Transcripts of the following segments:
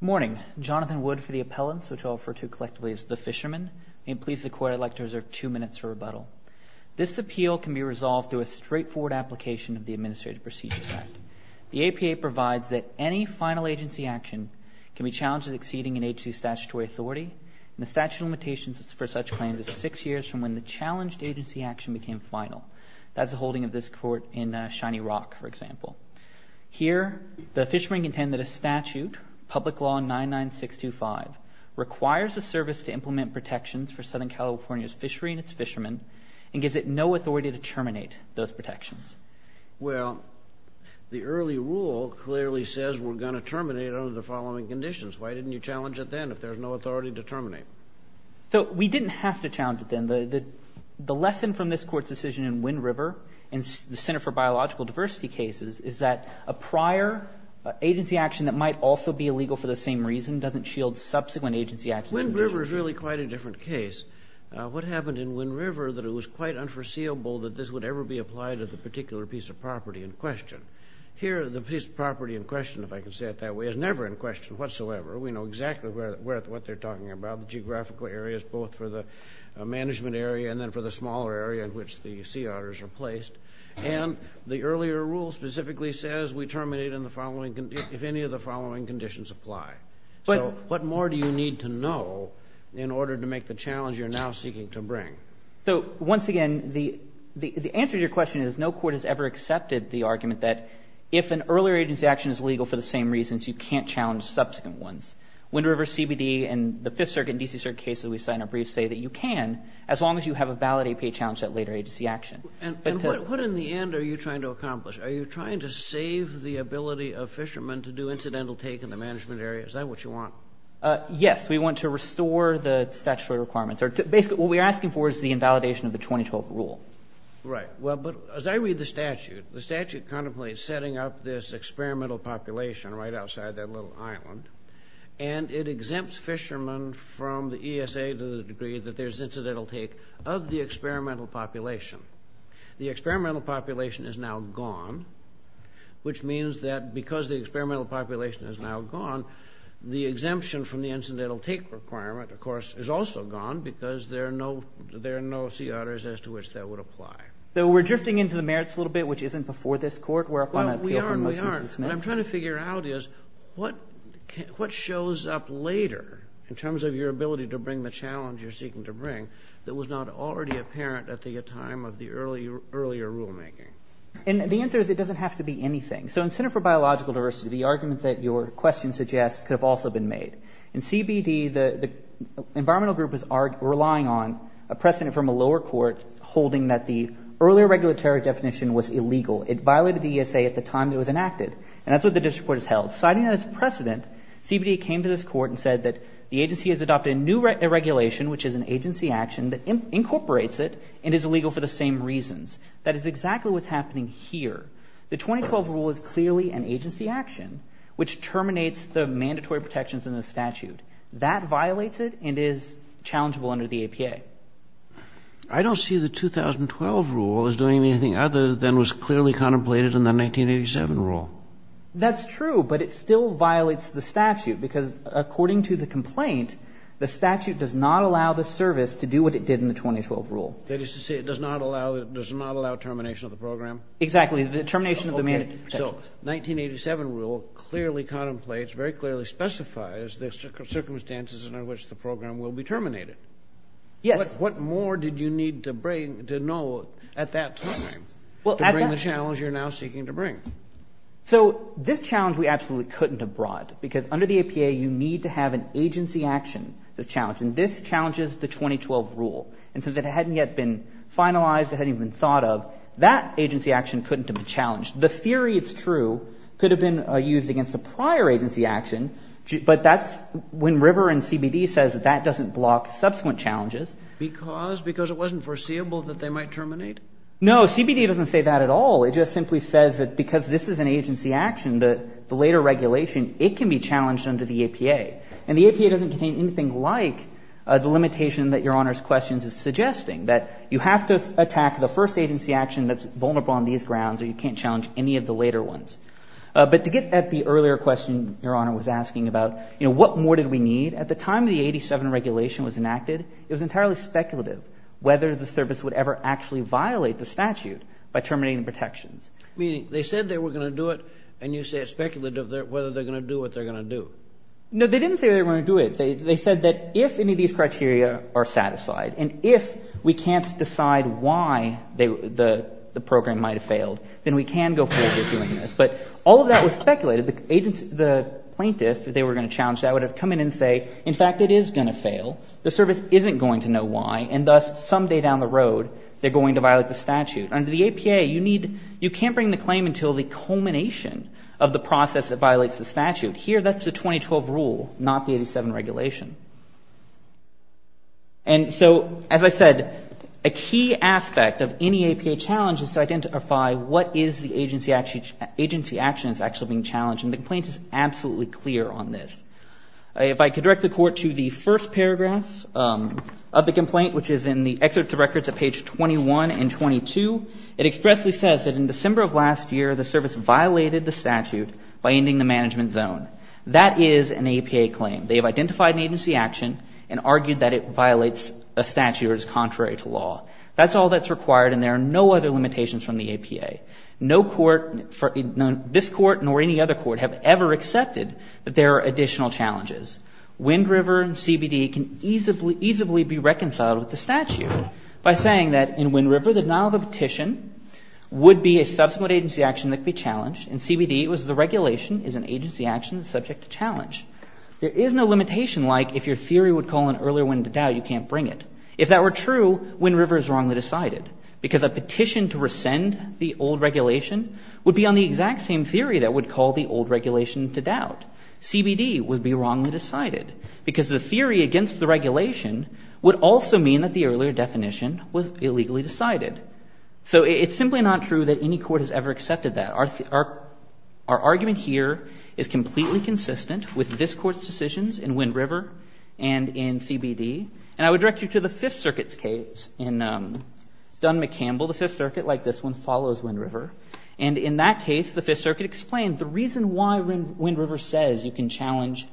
Morning. Jonathan Wood for the Appellants, which I'll refer to collectively as the Fishermen. May it please the Court, I'd like to reserve two minutes for rebuttal. This appeal can be resolved through a straightforward application of the Administrative Procedures Act. The APA provides that any final agency action can be challenged as exceeding an agency's statutory authority. The statute of limitations for such claims is six years from when the challenged agency action became final. That's the holding of this Court in Shiny Rock, for example. Here, the fishermen contend that a statute, Public Law 99625, requires a service to implement protections for Southern California's fishery and its fishermen and gives it no authority to terminate those protections. Well, the early rule clearly says we're going to terminate under the following conditions. Why didn't you challenge it then if there's no authority to terminate? We didn't have to challenge it then. The lesson from this Court's decision in Wynn River and the Center for Biological Diversity cases is that a prior agency action that might also be illegal for the same reason doesn't shield subsequent agency actions. Wynn River is really quite a different case. What happened in Wynn River that it was quite unforeseeable that this would ever be applied to the particular piece of property in question. Here, the piece of property in question, if I can say it that way, is never in question whatsoever. We know exactly what they're talking about, the geographical areas both for the management area and then for the smaller area in which the sea otters are placed. And the earlier rule specifically says we terminate if any of the following conditions apply. So what more do you need to know in order to make the challenge you're now seeking to bring? So once again, the answer to your question is no court has ever accepted the argument that if an earlier agency action is illegal for the same reasons, you can't challenge subsequent ones. Wynn River CBD and the Fifth Circuit and D.C. Circuit cases we've cited in our briefs say that you can as long as you have a valid APA challenge at later agency action. And what in the end are you trying to accomplish? Are you trying to save the ability of fishermen to do incidental take in the management area? Is that what you want? Yes. We want to restore the statutory requirements. Basically, what we're asking for is the invalidation of the 2012 rule. Right. Well, but as I read the statute, the statute contemplates setting up this experimental population right outside that little island. And it exempts fishermen from the ESA to the degree that there's incidental take of the experimental population. The experimental population is now gone, which means that because the experimental population is now gone, the exemption from the incidental take requirement, of course, is also gone because there are no sea otters as to which that would apply. So we're drifting into the merits a little bit, which isn't before this court. Well, we aren't. We aren't. What I'm trying to figure out is what shows up later in terms of your ability to bring the challenge you're seeking to bring that was not already apparent at the time of the earlier rulemaking? And the answer is it doesn't have to be anything. So in Center for Biological Diversity, the argument that your question suggests could have also been made. In CBD, the environmental group is relying on a precedent from a lower court holding that the earlier regulatory definition was illegal. It violated the ESA at the time it was enacted, and that's what the district court has held. Citing that as precedent, CBD came to this court and said that the agency has adopted a new regulation, which is an agency action that incorporates it and is illegal for the same reasons. That is exactly what's happening here. The 2012 rule is clearly an agency action, which terminates the mandatory protections in the statute. That violates it and is challengeable under the APA. I don't see the 2012 rule as doing anything other than was clearly contemplated in the 1987 rule. That's true, but it still violates the statute because, according to the complaint, the statute does not allow the service to do what it did in the 2012 rule. That is to say it does not allow termination of the program? Exactly, the termination of the mandatory protections. So the 1987 rule clearly contemplates, very clearly specifies the circumstances under which the program will be terminated. Yes. What more did you need to know at that time to bring the challenge you're now seeking to bring? So this challenge we absolutely couldn't have brought because, under the APA, you need to have an agency action to challenge, and this challenges the 2012 rule. And since it hadn't yet been finalized, it hadn't even been thought of, that agency action couldn't have been challenged. The theory it's true could have been used against a prior agency action, but that's when River and CBD says that that doesn't block subsequent challenges. Because? Because it wasn't foreseeable that they might terminate? No. CBD doesn't say that at all. It just simply says that because this is an agency action, the later regulation, it can be challenged under the APA. And the APA doesn't contain anything like the limitation that Your Honor's question is suggesting, that you have to attack the first agency action that's vulnerable on these grounds, or you can't challenge any of the later ones. But to get at the earlier question Your Honor was asking about, you know, what more did we need? At the time the 1987 regulation was enacted, it was entirely speculative whether the service would ever actually violate the statute by terminating protections. Meaning they said they were going to do it, and you say it's speculative whether they're going to do what they're going to do. No, they didn't say they were going to do it. They said that if any of these criteria are satisfied, and if we can't decide why the program might have failed, then we can go forward with doing this. But all of that was speculated. The plaintiff, if they were going to challenge that, would have come in and say, in fact, it is going to fail. The service isn't going to know why, and thus, someday down the road, they're going to violate the statute. Under the APA, you need — you can't bring the claim until the culmination of the process that violates the statute. Here, that's the 2012 rule, not the 87 regulation. And so, as I said, a key aspect of any APA challenge is to identify what is the agency action that's actually being challenged, and the complaint is absolutely clear on this. If I could direct the Court to the first paragraph of the complaint, which is in the excerpt of records at page 21 and 22, it expressly says that in December of last year, the service violated the statute by ending the management zone. That is an APA claim. They have identified an agency action and argued that it violates a statute or is contrary to law. That's all that's required, and there are no other limitations from the APA. No court — this Court nor any other court have ever accepted that there are additional challenges. Wind River and CBD can easily be reconciled with the statute by saying that in Wind River, the denial of a petition would be a subsequent agency action that could be challenged, and CBD was the regulation is an agency action subject to challenge. There is no limitation like if your theory would call an earlier one into doubt, you can't bring it. If that were true, Wind River is wrongly decided because a petition to rescind the old regulation would be on the exact same theory that would call the old regulation into doubt. CBD would be wrongly decided because the theory against the regulation would also mean that the earlier definition was illegally decided. So it's simply not true that any court has ever accepted that. Our argument here is completely consistent with this Court's decisions in Wind River and in CBD. And I would direct you to the Fifth Circuit's case. In Dunn v. McCampbell, the Fifth Circuit, like this one, follows Wind River. And in that case, the Fifth Circuit explained the reason why Wind River says you can challenge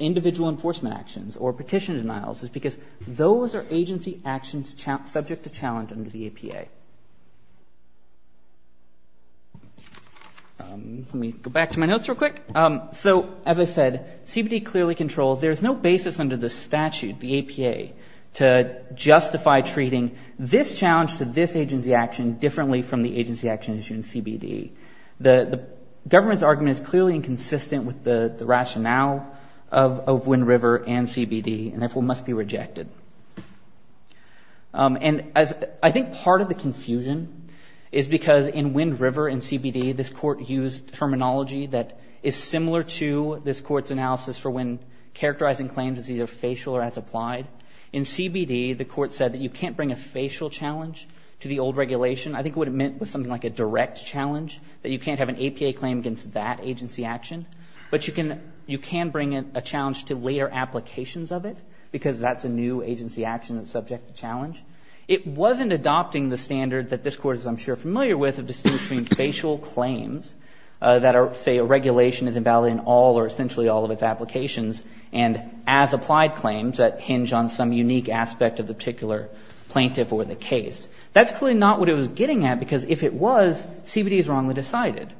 individual enforcement actions or petition denials is because those are agency actions subject to challenge under the APA. Let me go back to my notes real quick. So as I said, CBD clearly controls. There's no basis under the statute, the APA, to justify treating this challenge to this agency action differently from the agency action issued in CBD. The government's argument is clearly inconsistent with the rationale of Wind River and CBD and, therefore, must be rejected. And I think part of the confusion is because in Wind River and CBD, this Court used terminology that is similar to this Court's analysis for when characterizing claims as either facial or as applied. In CBD, the Court said that you can't bring a facial challenge to the old regulation. I think what it meant was something like a direct challenge, that you can't have an APA claim against that agency action. But you can bring a challenge to later applications of it, because that's a new agency action that's subject to challenge. It wasn't adopting the standard that this Court is, I'm sure, familiar with of distinguishing facial claims that say a regulation is invalid in all or essentially all of its applications and as applied claims that hinge on some unique aspect of the particular plaintiff or the case. That's clearly not what it was getting at, because if it was, CBD is wrongly decided.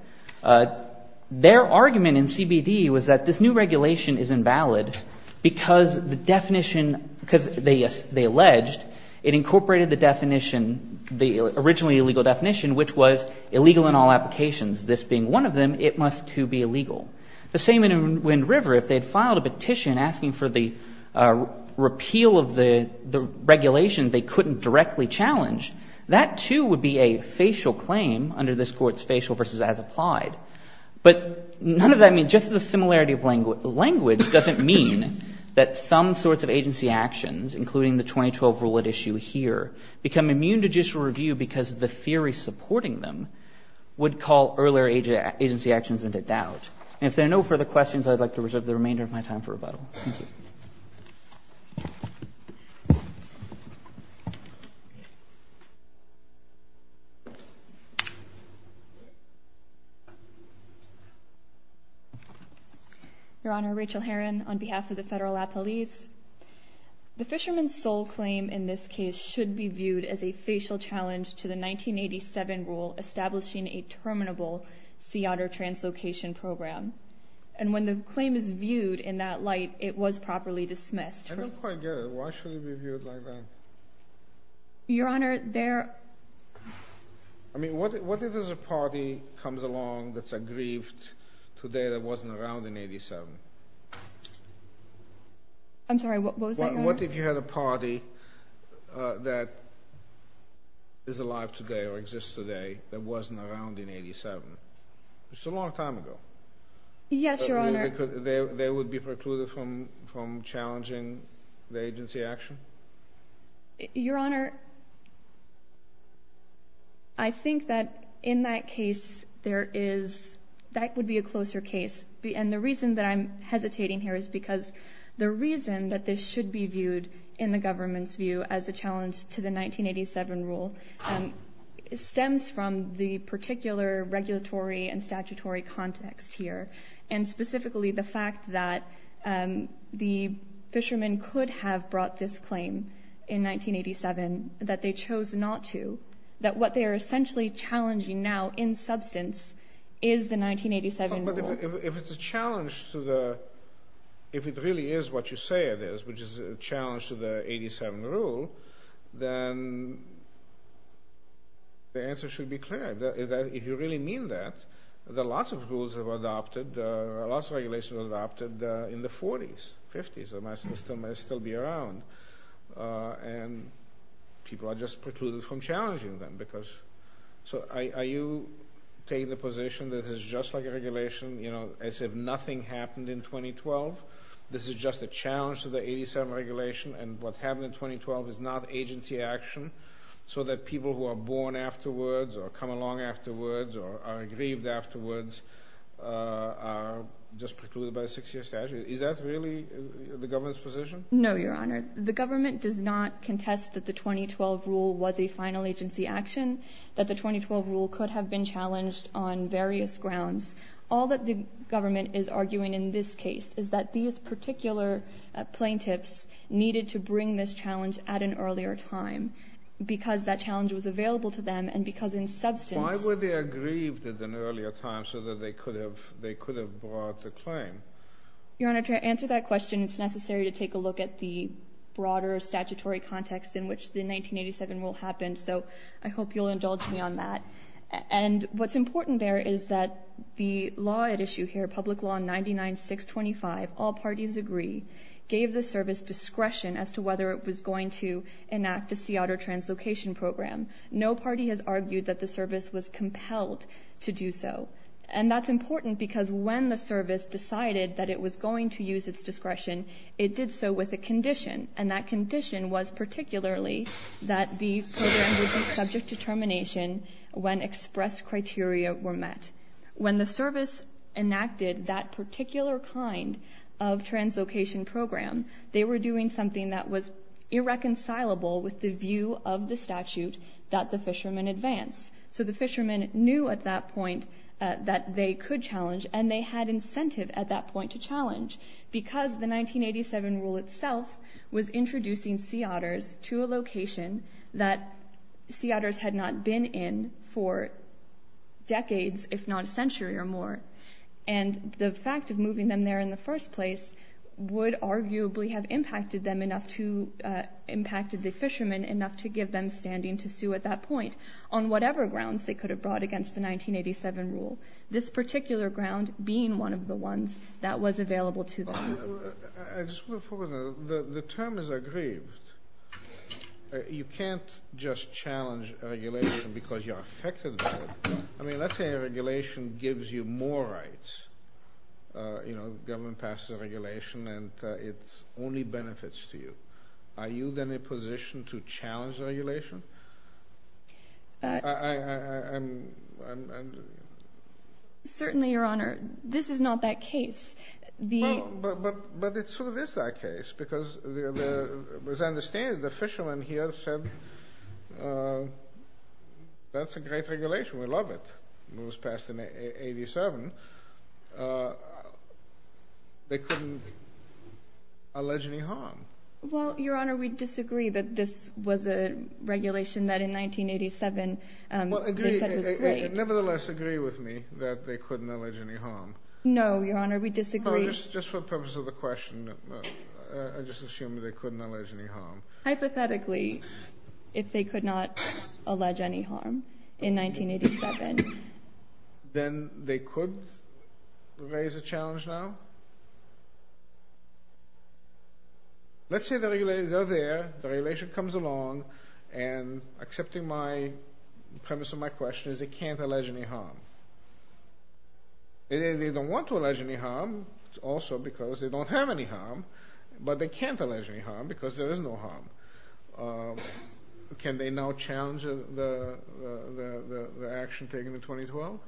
Their argument in CBD was that this new regulation is invalid because the definition because they alleged it incorporated the definition, the originally illegal definition, which was illegal in all applications. This being one of them, it must, too, be illegal. The same in Wind River. If they had filed a petition asking for the repeal of the regulation they couldn't directly challenge, that, too, would be a facial claim under this Court's facial versus as applied. But none of that, I mean, just the similarity of language doesn't mean that some sorts of agency actions, including the 2012 rule at issue here, become immune to judicial review because the theory supporting them would call earlier agency actions into doubt. And if there are no further questions, I would like to reserve the remainder of my time for rebuttal. Thank you. Thank you. Your Honor, Rachel Herron on behalf of the Federal Appellees. The Fisherman's Sole claim in this case should be viewed as a facial challenge to the 1987 rule establishing a terminable sea otter translocation program. And when the claim is viewed in that light, it was properly dismissed. I don't quite get it. Why should it be viewed like that? Your Honor, there... I mean, what if there's a party comes along that's aggrieved today that wasn't around in 1987? I'm sorry, what was that, Your Honor? What if you had a party that is alive today or exists today that wasn't around in 1987? It's a long time ago. Yes, Your Honor. They would be precluded from challenging the agency action? Your Honor, I think that in that case there is... that would be a closer case. And the reason that I'm hesitating here is because the reason that this should be viewed in the government's view as a challenge to the 1987 rule stems from the particular regulatory and statutory context here. And specifically the fact that the fishermen could have brought this claim in 1987 that they chose not to. That what they are essentially challenging now in substance is the 1987 rule. But if it's a challenge to the... if it really is what you say it is, which is a challenge to the 1987 rule, then the answer should be clear. If you really mean that, there are lots of rules that were adopted, lots of regulations that were adopted in the 40s, 50s, that might still be around. And people are just precluded from challenging them because... Are you taking the position that this is just like a regulation, you know, as if nothing happened in 2012? This is just a challenge to the 87 regulation, and what happened in 2012 is not agency action so that people who are born afterwards or come along afterwards or are grieved afterwards are just precluded by a 6-year statute? Is that really the government's position? No, Your Honor. The government does not contest that the 2012 rule was a final agency action, that the 2012 rule could have been challenged on various grounds. All that the government is arguing in this case is that these particular plaintiffs needed to bring this challenge at an earlier time because that challenge was available to them and because in substance... Why were they aggrieved at an earlier time so that they could have brought the claim? Your Honor, to answer that question, it's necessary to take a look at the broader statutory context in which the 1987 rule happened. So I hope you'll indulge me on that. And what's important there is that the law at issue here, Public Law 99-625, All Parties Agree, gave the service discretion as to whether it was going to enact a sea otter translocation program. No party has argued that the service was compelled to do so. And that's important because when the service decided that it was going to use its discretion, it did so with a condition, and that condition was particularly that the program would be subject to termination when expressed criteria were met. When the service enacted that particular kind of translocation program, they were doing something that was irreconcilable with the view of the statute that the fishermen advance. So the fishermen knew at that point that they could challenge and they had incentive at that point to challenge because the 1987 rule itself was introducing sea otters to a location that sea otters had not been in for decades, if not a century or more. And the fact of moving them there in the first place would arguably have impacted the fishermen enough to give them standing to sue at that point on whatever grounds they could have brought against the 1987 rule, this particular ground being one of the ones that was available to them. The term is aggrieved. You can't just challenge a regulation because you're affected by it. I mean, let's say a regulation gives you more rights. You know, government passes a regulation and it only benefits to you. Are you then in a position to challenge the regulation? Certainly, Your Honor. This is not that case. But it sort of is that case because as I understand it, the fishermen here said that's a great regulation. We love it. It was passed in 1987. They couldn't allege any harm. Well, Your Honor, we disagree that this was a regulation that in 1987 they said was great. Nevertheless, agree with me that they couldn't allege any harm. No, Your Honor, we disagree. Just for the purpose of the question, I just assume they couldn't allege any harm. Hypothetically, if they could not allege any harm in 1987. Then they could raise a challenge now? Let's say they're there, the regulation comes along, and accepting the premise of my question is they can't allege any harm. They don't want to allege any harm also because they don't have any harm, but they can't allege any harm because there is no harm. Can they now challenge the action taken in 2012?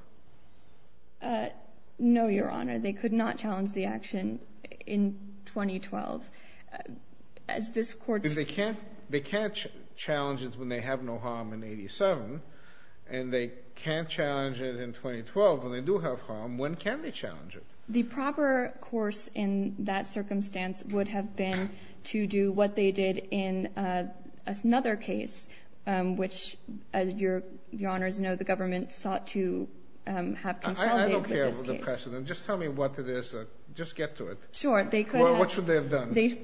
No, Your Honor. They could not challenge the action in 2012. They can't challenge it when they have no harm in 1987, and they can't challenge it in 2012 when they do have harm. When can they challenge it? The proper course in that circumstance would have been to do what they did in another case, which, as Your Honors know, the government sought to have consolidated this case. I don't care for the precedent. Just tell me what it is. Just get to it. Sure, they could have. Well, what should they have done? They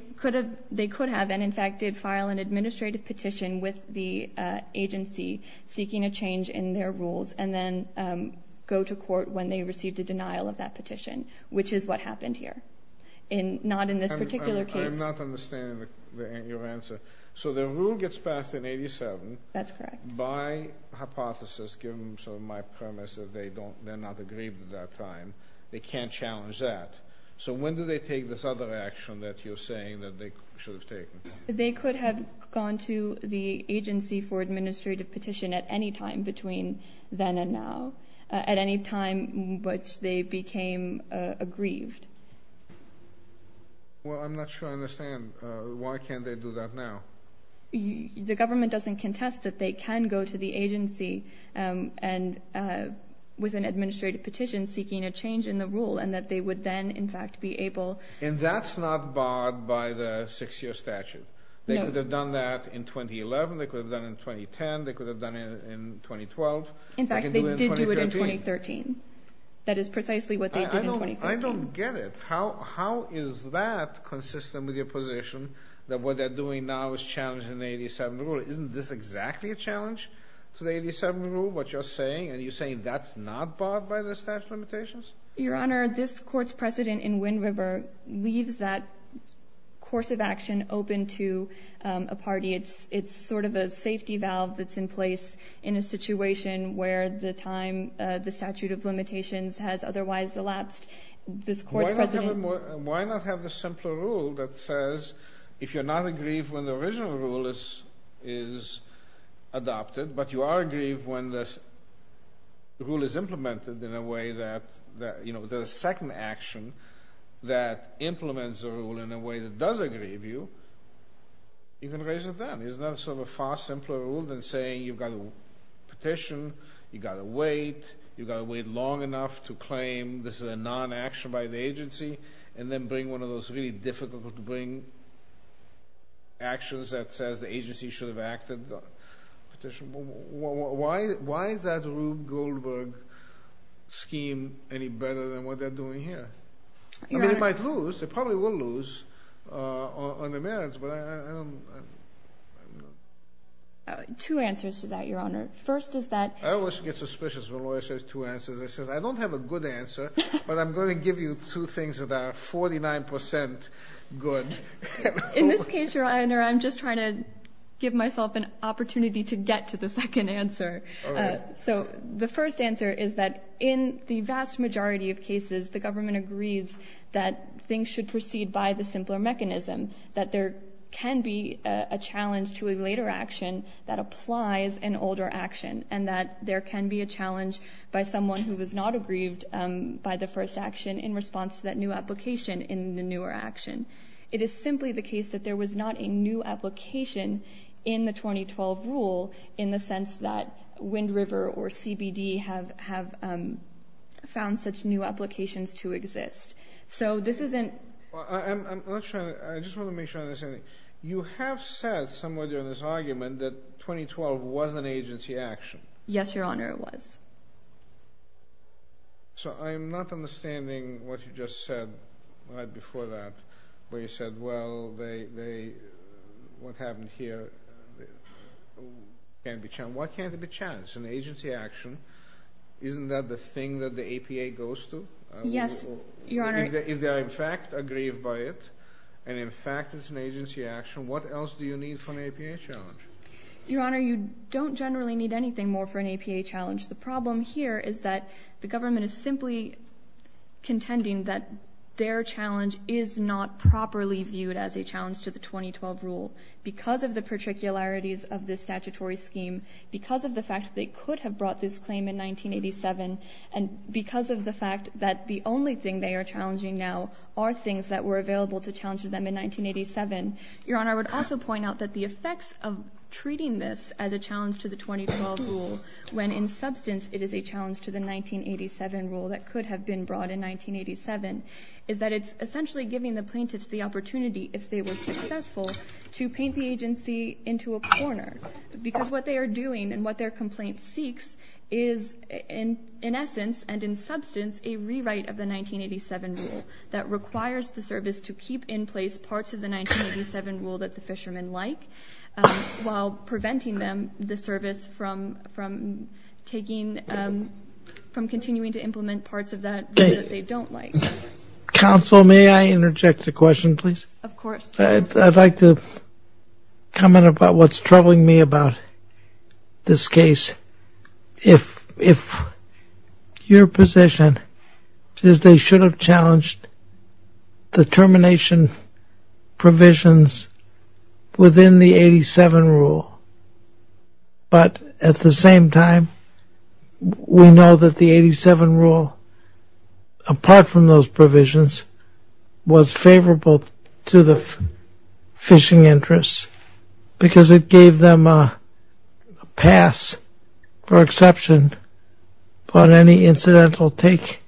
could have, and in fact did file an administrative petition with the agency seeking a change in their rules and then go to court when they received a denial of that petition, which is what happened here, not in this particular case. I'm not understanding your answer. So the rule gets passed in 1987. That's correct. By hypothesis, given sort of my premise that they're not aggrieved at that time, they can't challenge that. So when do they take this other action that you're saying that they should have taken? They could have gone to the agency for an administrative petition at any time between then and now, at any time in which they became aggrieved. Well, I'm not sure I understand. Why can't they do that now? The government doesn't contest that they can go to the agency with an administrative petition seeking a change in the rule and that they would then, in fact, be able. And that's not barred by the six-year statute. They could have done that in 2011. They could have done it in 2010. They could have done it in 2012. In fact, they did do it in 2013. That is precisely what they did in 2015. I don't get it. How is that consistent with your position that what they're doing now is challenging the 87 rule? Isn't this exactly a challenge to the 87 rule, what you're saying? And you're saying that's not barred by the statute of limitations? Your Honor, this court's precedent in Wind River leaves that course of action open to a party. It's sort of a safety valve that's in place in a situation where the time, the statute of limitations, has otherwise elapsed. Why not have the simpler rule that says if you're not aggrieved when the original rule is adopted, but you are aggrieved when the rule is implemented in a way that, you know, the second action that implements the rule in a way that does aggrieve you, you can raise it then. Isn't that sort of a far simpler rule than saying you've got to petition, you've got to wait, you've got to wait long enough to claim this is a non-action by the agency, and then bring one of those really difficult to bring actions that says the agency should have acted. Why is that Rube Goldberg scheme any better than what they're doing here? I mean, they might lose. They probably will lose on the merits, but I don't know. Two answers to that, Your Honor. First is that— I always get suspicious when a lawyer says two answers. I don't have a good answer, but I'm going to give you two things that are 49% good. In this case, Your Honor, I'm just trying to give myself an opportunity to get to the second answer. So the first answer is that in the vast majority of cases, the government agrees that things should proceed by the simpler mechanism, that there can be a challenge to a later action that applies an older action, and that there can be a challenge by someone who was not aggrieved by the first action in response to that new application in the newer action. It is simply the case that there was not a new application in the 2012 rule in the sense that Wind River or CBD have found such new applications to exist. So this isn't— I just want to make sure I understand. You have said somewhere during this argument that 2012 was an agency action. Yes, Your Honor, it was. So I'm not understanding what you just said right before that, where you said, well, what happened here can't be challenged. Why can't it be challenged? It's an agency action. Isn't that the thing that the APA goes to? Yes, Your Honor. If they are in fact aggrieved by it, and in fact it's an agency action, what else do you need for an APA challenge? Your Honor, you don't generally need anything more for an APA challenge. The problem here is that the government is simply contending that their challenge is not properly viewed as a challenge to the 2012 rule because of the particularities of the statutory scheme, because of the fact that they could have brought this claim in 1987, and because of the fact that the only thing they are challenging now are things that were available to challenge them in 1987. Your Honor, I would also point out that the effects of treating this as a challenge to the 2012 rule, when in substance it is a challenge to the 1987 rule that could have been brought in 1987, is that it's essentially giving the plaintiffs the opportunity, if they were successful, to paint the agency into a corner because what they are doing and what their complaint seeks is in essence and in substance a rewrite of the 1987 rule that requires the service to keep in place parts of the 1987 rule that the fishermen like, while preventing them, the service, from continuing to implement parts of that rule that they don't like. Counsel, may I interject a question, please? Of course. I'd like to comment about what's troubling me about this case. If your position is they should have challenged the termination provisions within the 1987 rule, but at the same time we know that the 1987 rule, apart from those provisions, was favorable to the fishing interests because it gave them a pass for exception on any incidental take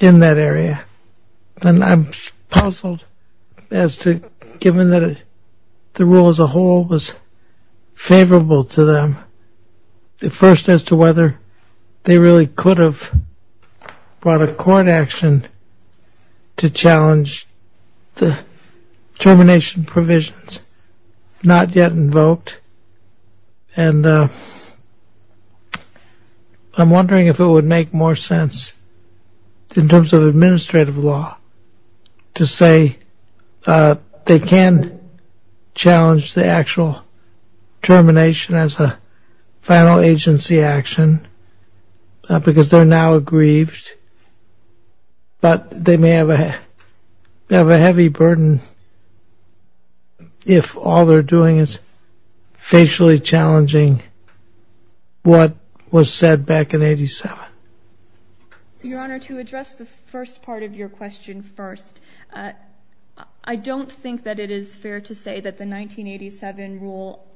in that area. And I'm puzzled as to, given that the rule as a whole was favorable to them, at first as to whether they really could have brought a court action to challenge the termination provisions not yet invoked. And I'm wondering if it would make more sense, in terms of administrative law, to say they can challenge the actual termination as a final agency action because they're now aggrieved, but they may have a heavy burden if all they're doing is facially challenging what was said back in 1987. Your Honor, to address the first part of your question first, I don't think that it is fair to say that the 1987 rule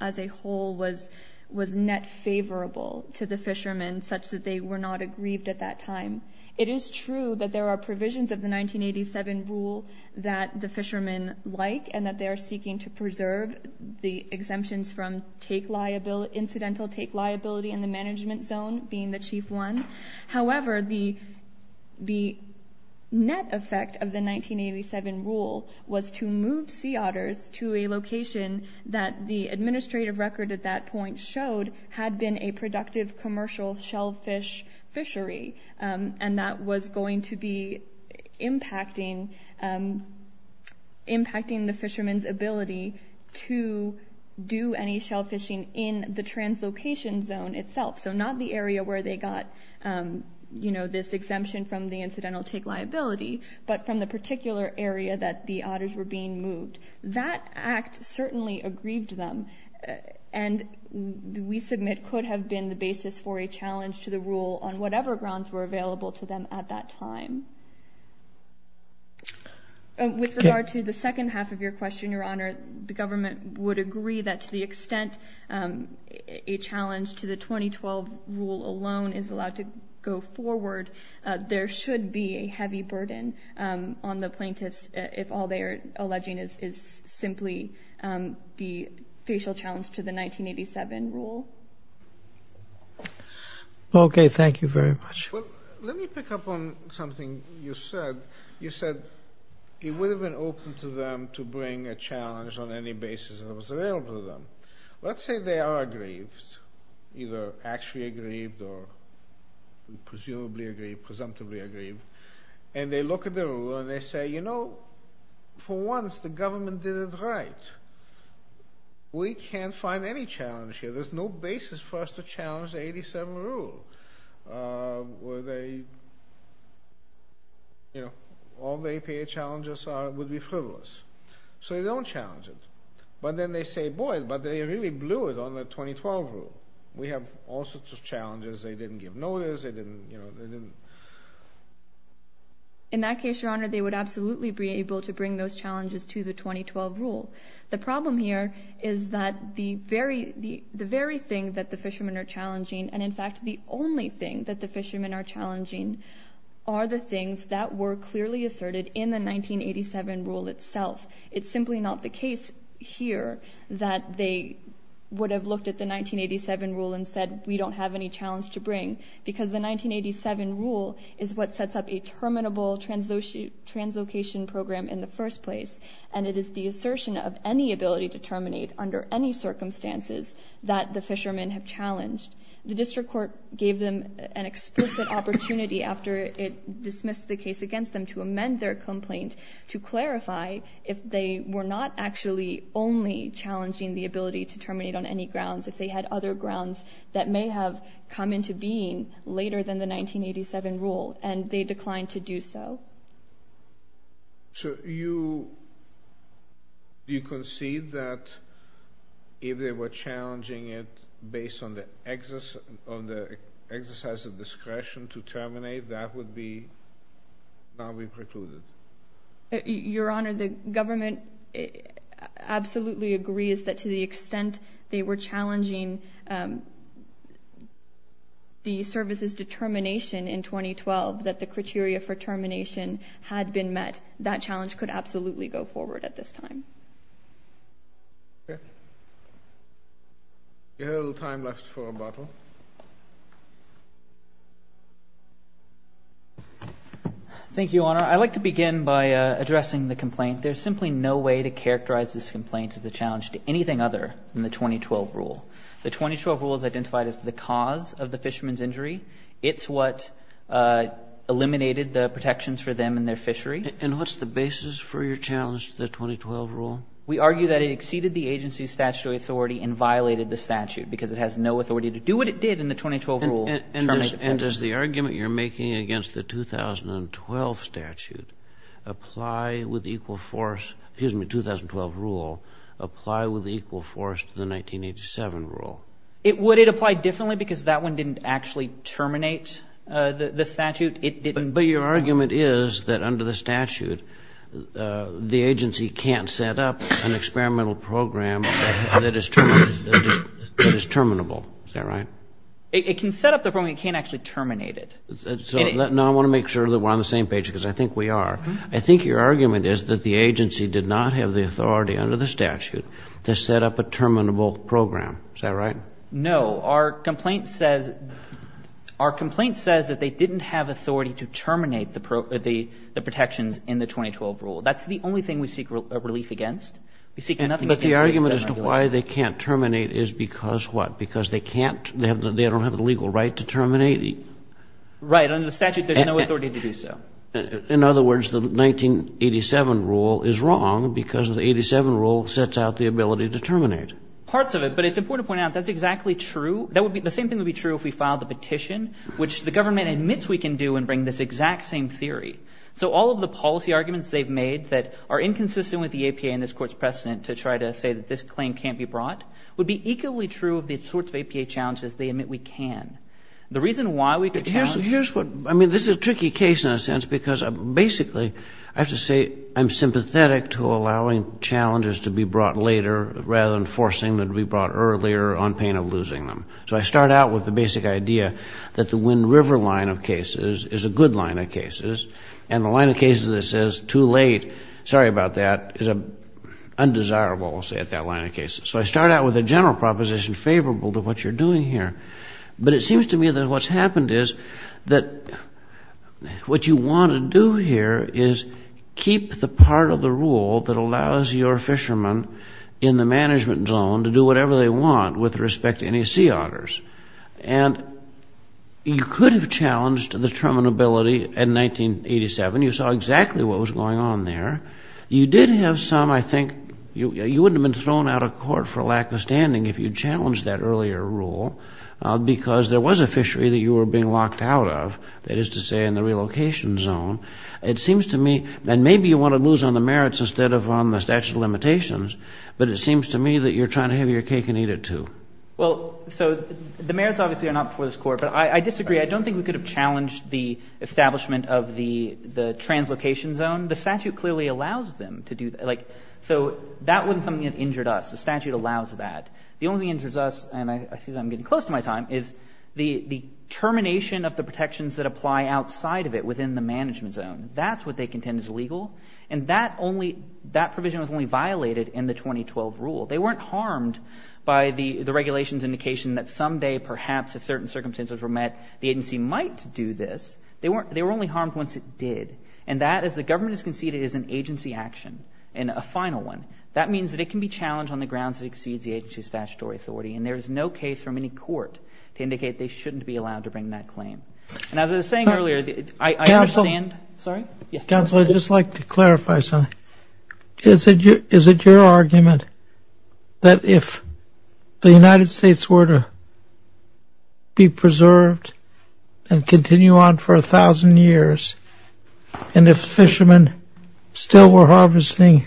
as a whole was net favorable to the fishermen such that they were not aggrieved at that time. It is true that there are provisions of the 1987 rule that the fishermen like and that they are seeking to preserve the exemptions from incidental take liability in the management zone, being the chief one. However, the net effect of the 1987 rule was to move sea otters to a location that the administrative record at that point showed had been a productive commercial shellfish fishery, and that was going to be impacting the fishermen's ability to do any shellfishing in the translocation zone itself, so not the area where they got this exemption from the incidental take liability, but from the particular area that the otters were being moved. That act certainly aggrieved them, and we submit could have been the basis for a challenge to the rule on whatever grounds were available to them at that time. With regard to the second half of your question, Your Honor, the government would agree that to the extent a challenge to the 2012 rule alone is allowed to go forward, there should be a heavy burden on the plaintiffs if all they are alleging is simply the facial challenge to the 1987 rule. Okay, thank you very much. Let me pick up on something you said. You said it would have been open to them to bring a challenge on any basis that was available to them. Let's say they are aggrieved, either actually aggrieved or presumably aggrieved, presumptively aggrieved, and they look at the rule and they say, you know, for once the government did it right. We can't find any challenge here. There's no basis for us to challenge the 87 rule. All the APA challenges would be frivolous. So they don't challenge it. But then they say, boy, but they really blew it on the 2012 rule. We have all sorts of challenges. They didn't give notice. In that case, Your Honor, they would absolutely be able to bring those challenges to the 2012 rule. The problem here is that the very thing that the fishermen are challenging and, in fact, the only thing that the fishermen are challenging are the things that were clearly asserted in the 1987 rule itself. It's simply not the case here that they would have looked at the 1987 rule and said, we don't have any challenge to bring, because the 1987 rule is what sets up a terminable translocation program in the first place. And it is the assertion of any ability to terminate under any circumstances that the fishermen have challenged. The district court gave them an explicit opportunity after it dismissed the case against them to amend their complaint to clarify if they were not actually only challenging the ability to terminate on any grounds, if they had other grounds that may have come into being later than the 1987 rule, and they declined to do so. So you concede that if they were challenging it based on the exercise of discretion to terminate, that would not be precluded? Your Honor, the government absolutely agrees that to the extent they were challenging the service's determination in 2012 that the criteria for termination had been met, that challenge could absolutely go forward at this time. Okay. We have a little time left for rebuttal. Thank you, Your Honor. I'd like to begin by addressing the complaint. There's simply no way to characterize this complaint as a challenge to anything other than the 2012 rule. The 2012 rule is identified as the cause of the fishermen's injury. It's what eliminated the protections for them and their fishery. And what's the basis for your challenge to the 2012 rule? We argue that it exceeded the agency's statutory authority and violated the statute because it has no authority to do what it did in the 2012 rule, terminate the person. And does the argument you're making against the 2012 statute apply with equal force to the 1987 rule? Would it apply differently because that one didn't actually terminate the statute? But your argument is that under the statute, the agency can't set up an experimental program that is terminable. Is that right? It can set up the program. It can't actually terminate it. Now I want to make sure that we're on the same page because I think we are. I think your argument is that the agency did not have the authority under the statute to set up a terminable program. Is that right? No. Our complaint says that they didn't have authority to terminate the protections in the 2012 rule. That's the only thing we seek relief against. We seek nothing against it. But the argument as to why they can't terminate is because what? Because they can't? They don't have the legal right to terminate? Right. Under the statute, there's no authority to do so. In other words, the 1987 rule is wrong because the 87 rule sets out the ability to terminate. Parts of it. But it's important to point out that's exactly true. The same thing would be true if we filed the petition, which the government admits we can do and bring this exact same theory. So all of the policy arguments they've made that are inconsistent with the APA and this Court's precedent to try to say that this claim can't be brought would be equally true of the sorts of APA challenges they admit we can. The reason why we could challenge them is because we can. This is a tricky case in a sense because basically I have to say I'm sympathetic to allowing challenges to be brought later rather than forcing them to be brought earlier on pain of losing them. So I start out with the basic idea that the Wind River line of cases is a good line of cases and the line of cases that says too late, sorry about that, is undesirable, we'll say, at that line of cases. So I start out with a general proposition favorable to what you're doing here. But it seems to me that what's happened is that what you want to do here is keep the part of the rule that allows your fishermen in the management zone to do whatever they want with respect to any sea otters. And you could have challenged the terminability in 1987. You saw exactly what was going on there. You did have some, I think, you wouldn't have been thrown out of court for lack of standing if you challenged that earlier rule because there was a fishery that you were being locked out of, that is to say in the relocation zone. It seems to me, and maybe you want to lose on the merits instead of on the statute of limitations, but it seems to me that you're trying to have your cake and eat it, too. Well, so the merits obviously are not before this Court. But I disagree. I don't think we could have challenged the establishment of the translocation zone. The statute clearly allows them to do that. So that wasn't something that injured us. The statute allows that. The only thing that injures us, and I see that I'm getting close to my time, is the termination of the protections that apply outside of it within the management zone. That's what they contend is illegal. And that provision was only violated in the 2012 rule. They weren't harmed by the regulations indication that someday, perhaps, if certain circumstances were met, the agency might do this. They were only harmed once it did. And that, as the government has conceded, is an agency action and a final one. That means that it can be challenged on the grounds it exceeds the agency's statutory authority. And there is no case from any court to indicate they shouldn't be allowed to bring that claim. And as I was saying earlier, I understand. Counsel, I'd just like to clarify something. Is it your argument that if the United States were to be preserved and continue on for 1,000 years and if fishermen still were harvesting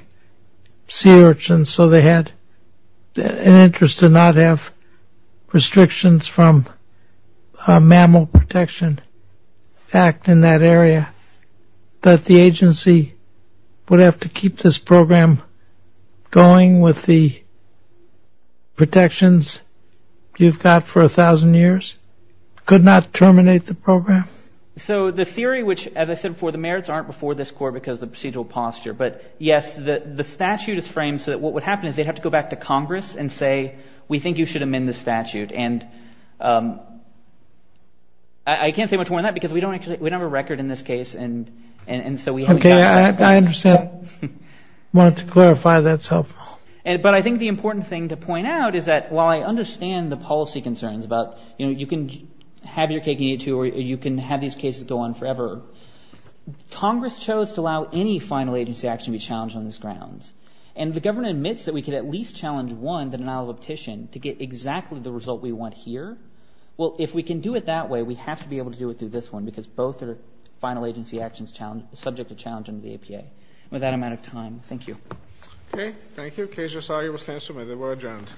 sea urchins, so they had an interest to not have restrictions from Mammal Protection Act in that area, that the agency would have to keep this program going with the protections you've got for 1,000 years? Could not terminate the program? So the theory, which, as I said before, the merits aren't before this court because of the procedural posture. But, yes, the statute is framed so that what would happen is they'd have to go back to Congress and say, we think you should amend the statute. And I can't say much more than that because we don't have a record in this case. And so we haven't gotten to that point. Okay, I understand. I wanted to clarify that. But I think the important thing to point out is that while I understand the policy concerns about, you know, you can have your cake and eat it, too, or you can have these cases go on forever, Congress chose to allow any final agency action to be challenged on these grounds. And the government admits that we could at least challenge one, the denial of optician, to get exactly the result we want here. Well, if we can do it that way, we have to be able to do it through this one because both are final agency actions subject to challenge under the APA. And with that, I'm out of time. Thank you. Okay. Thank you. Case resolved. You will stand to admit that we're adjourned.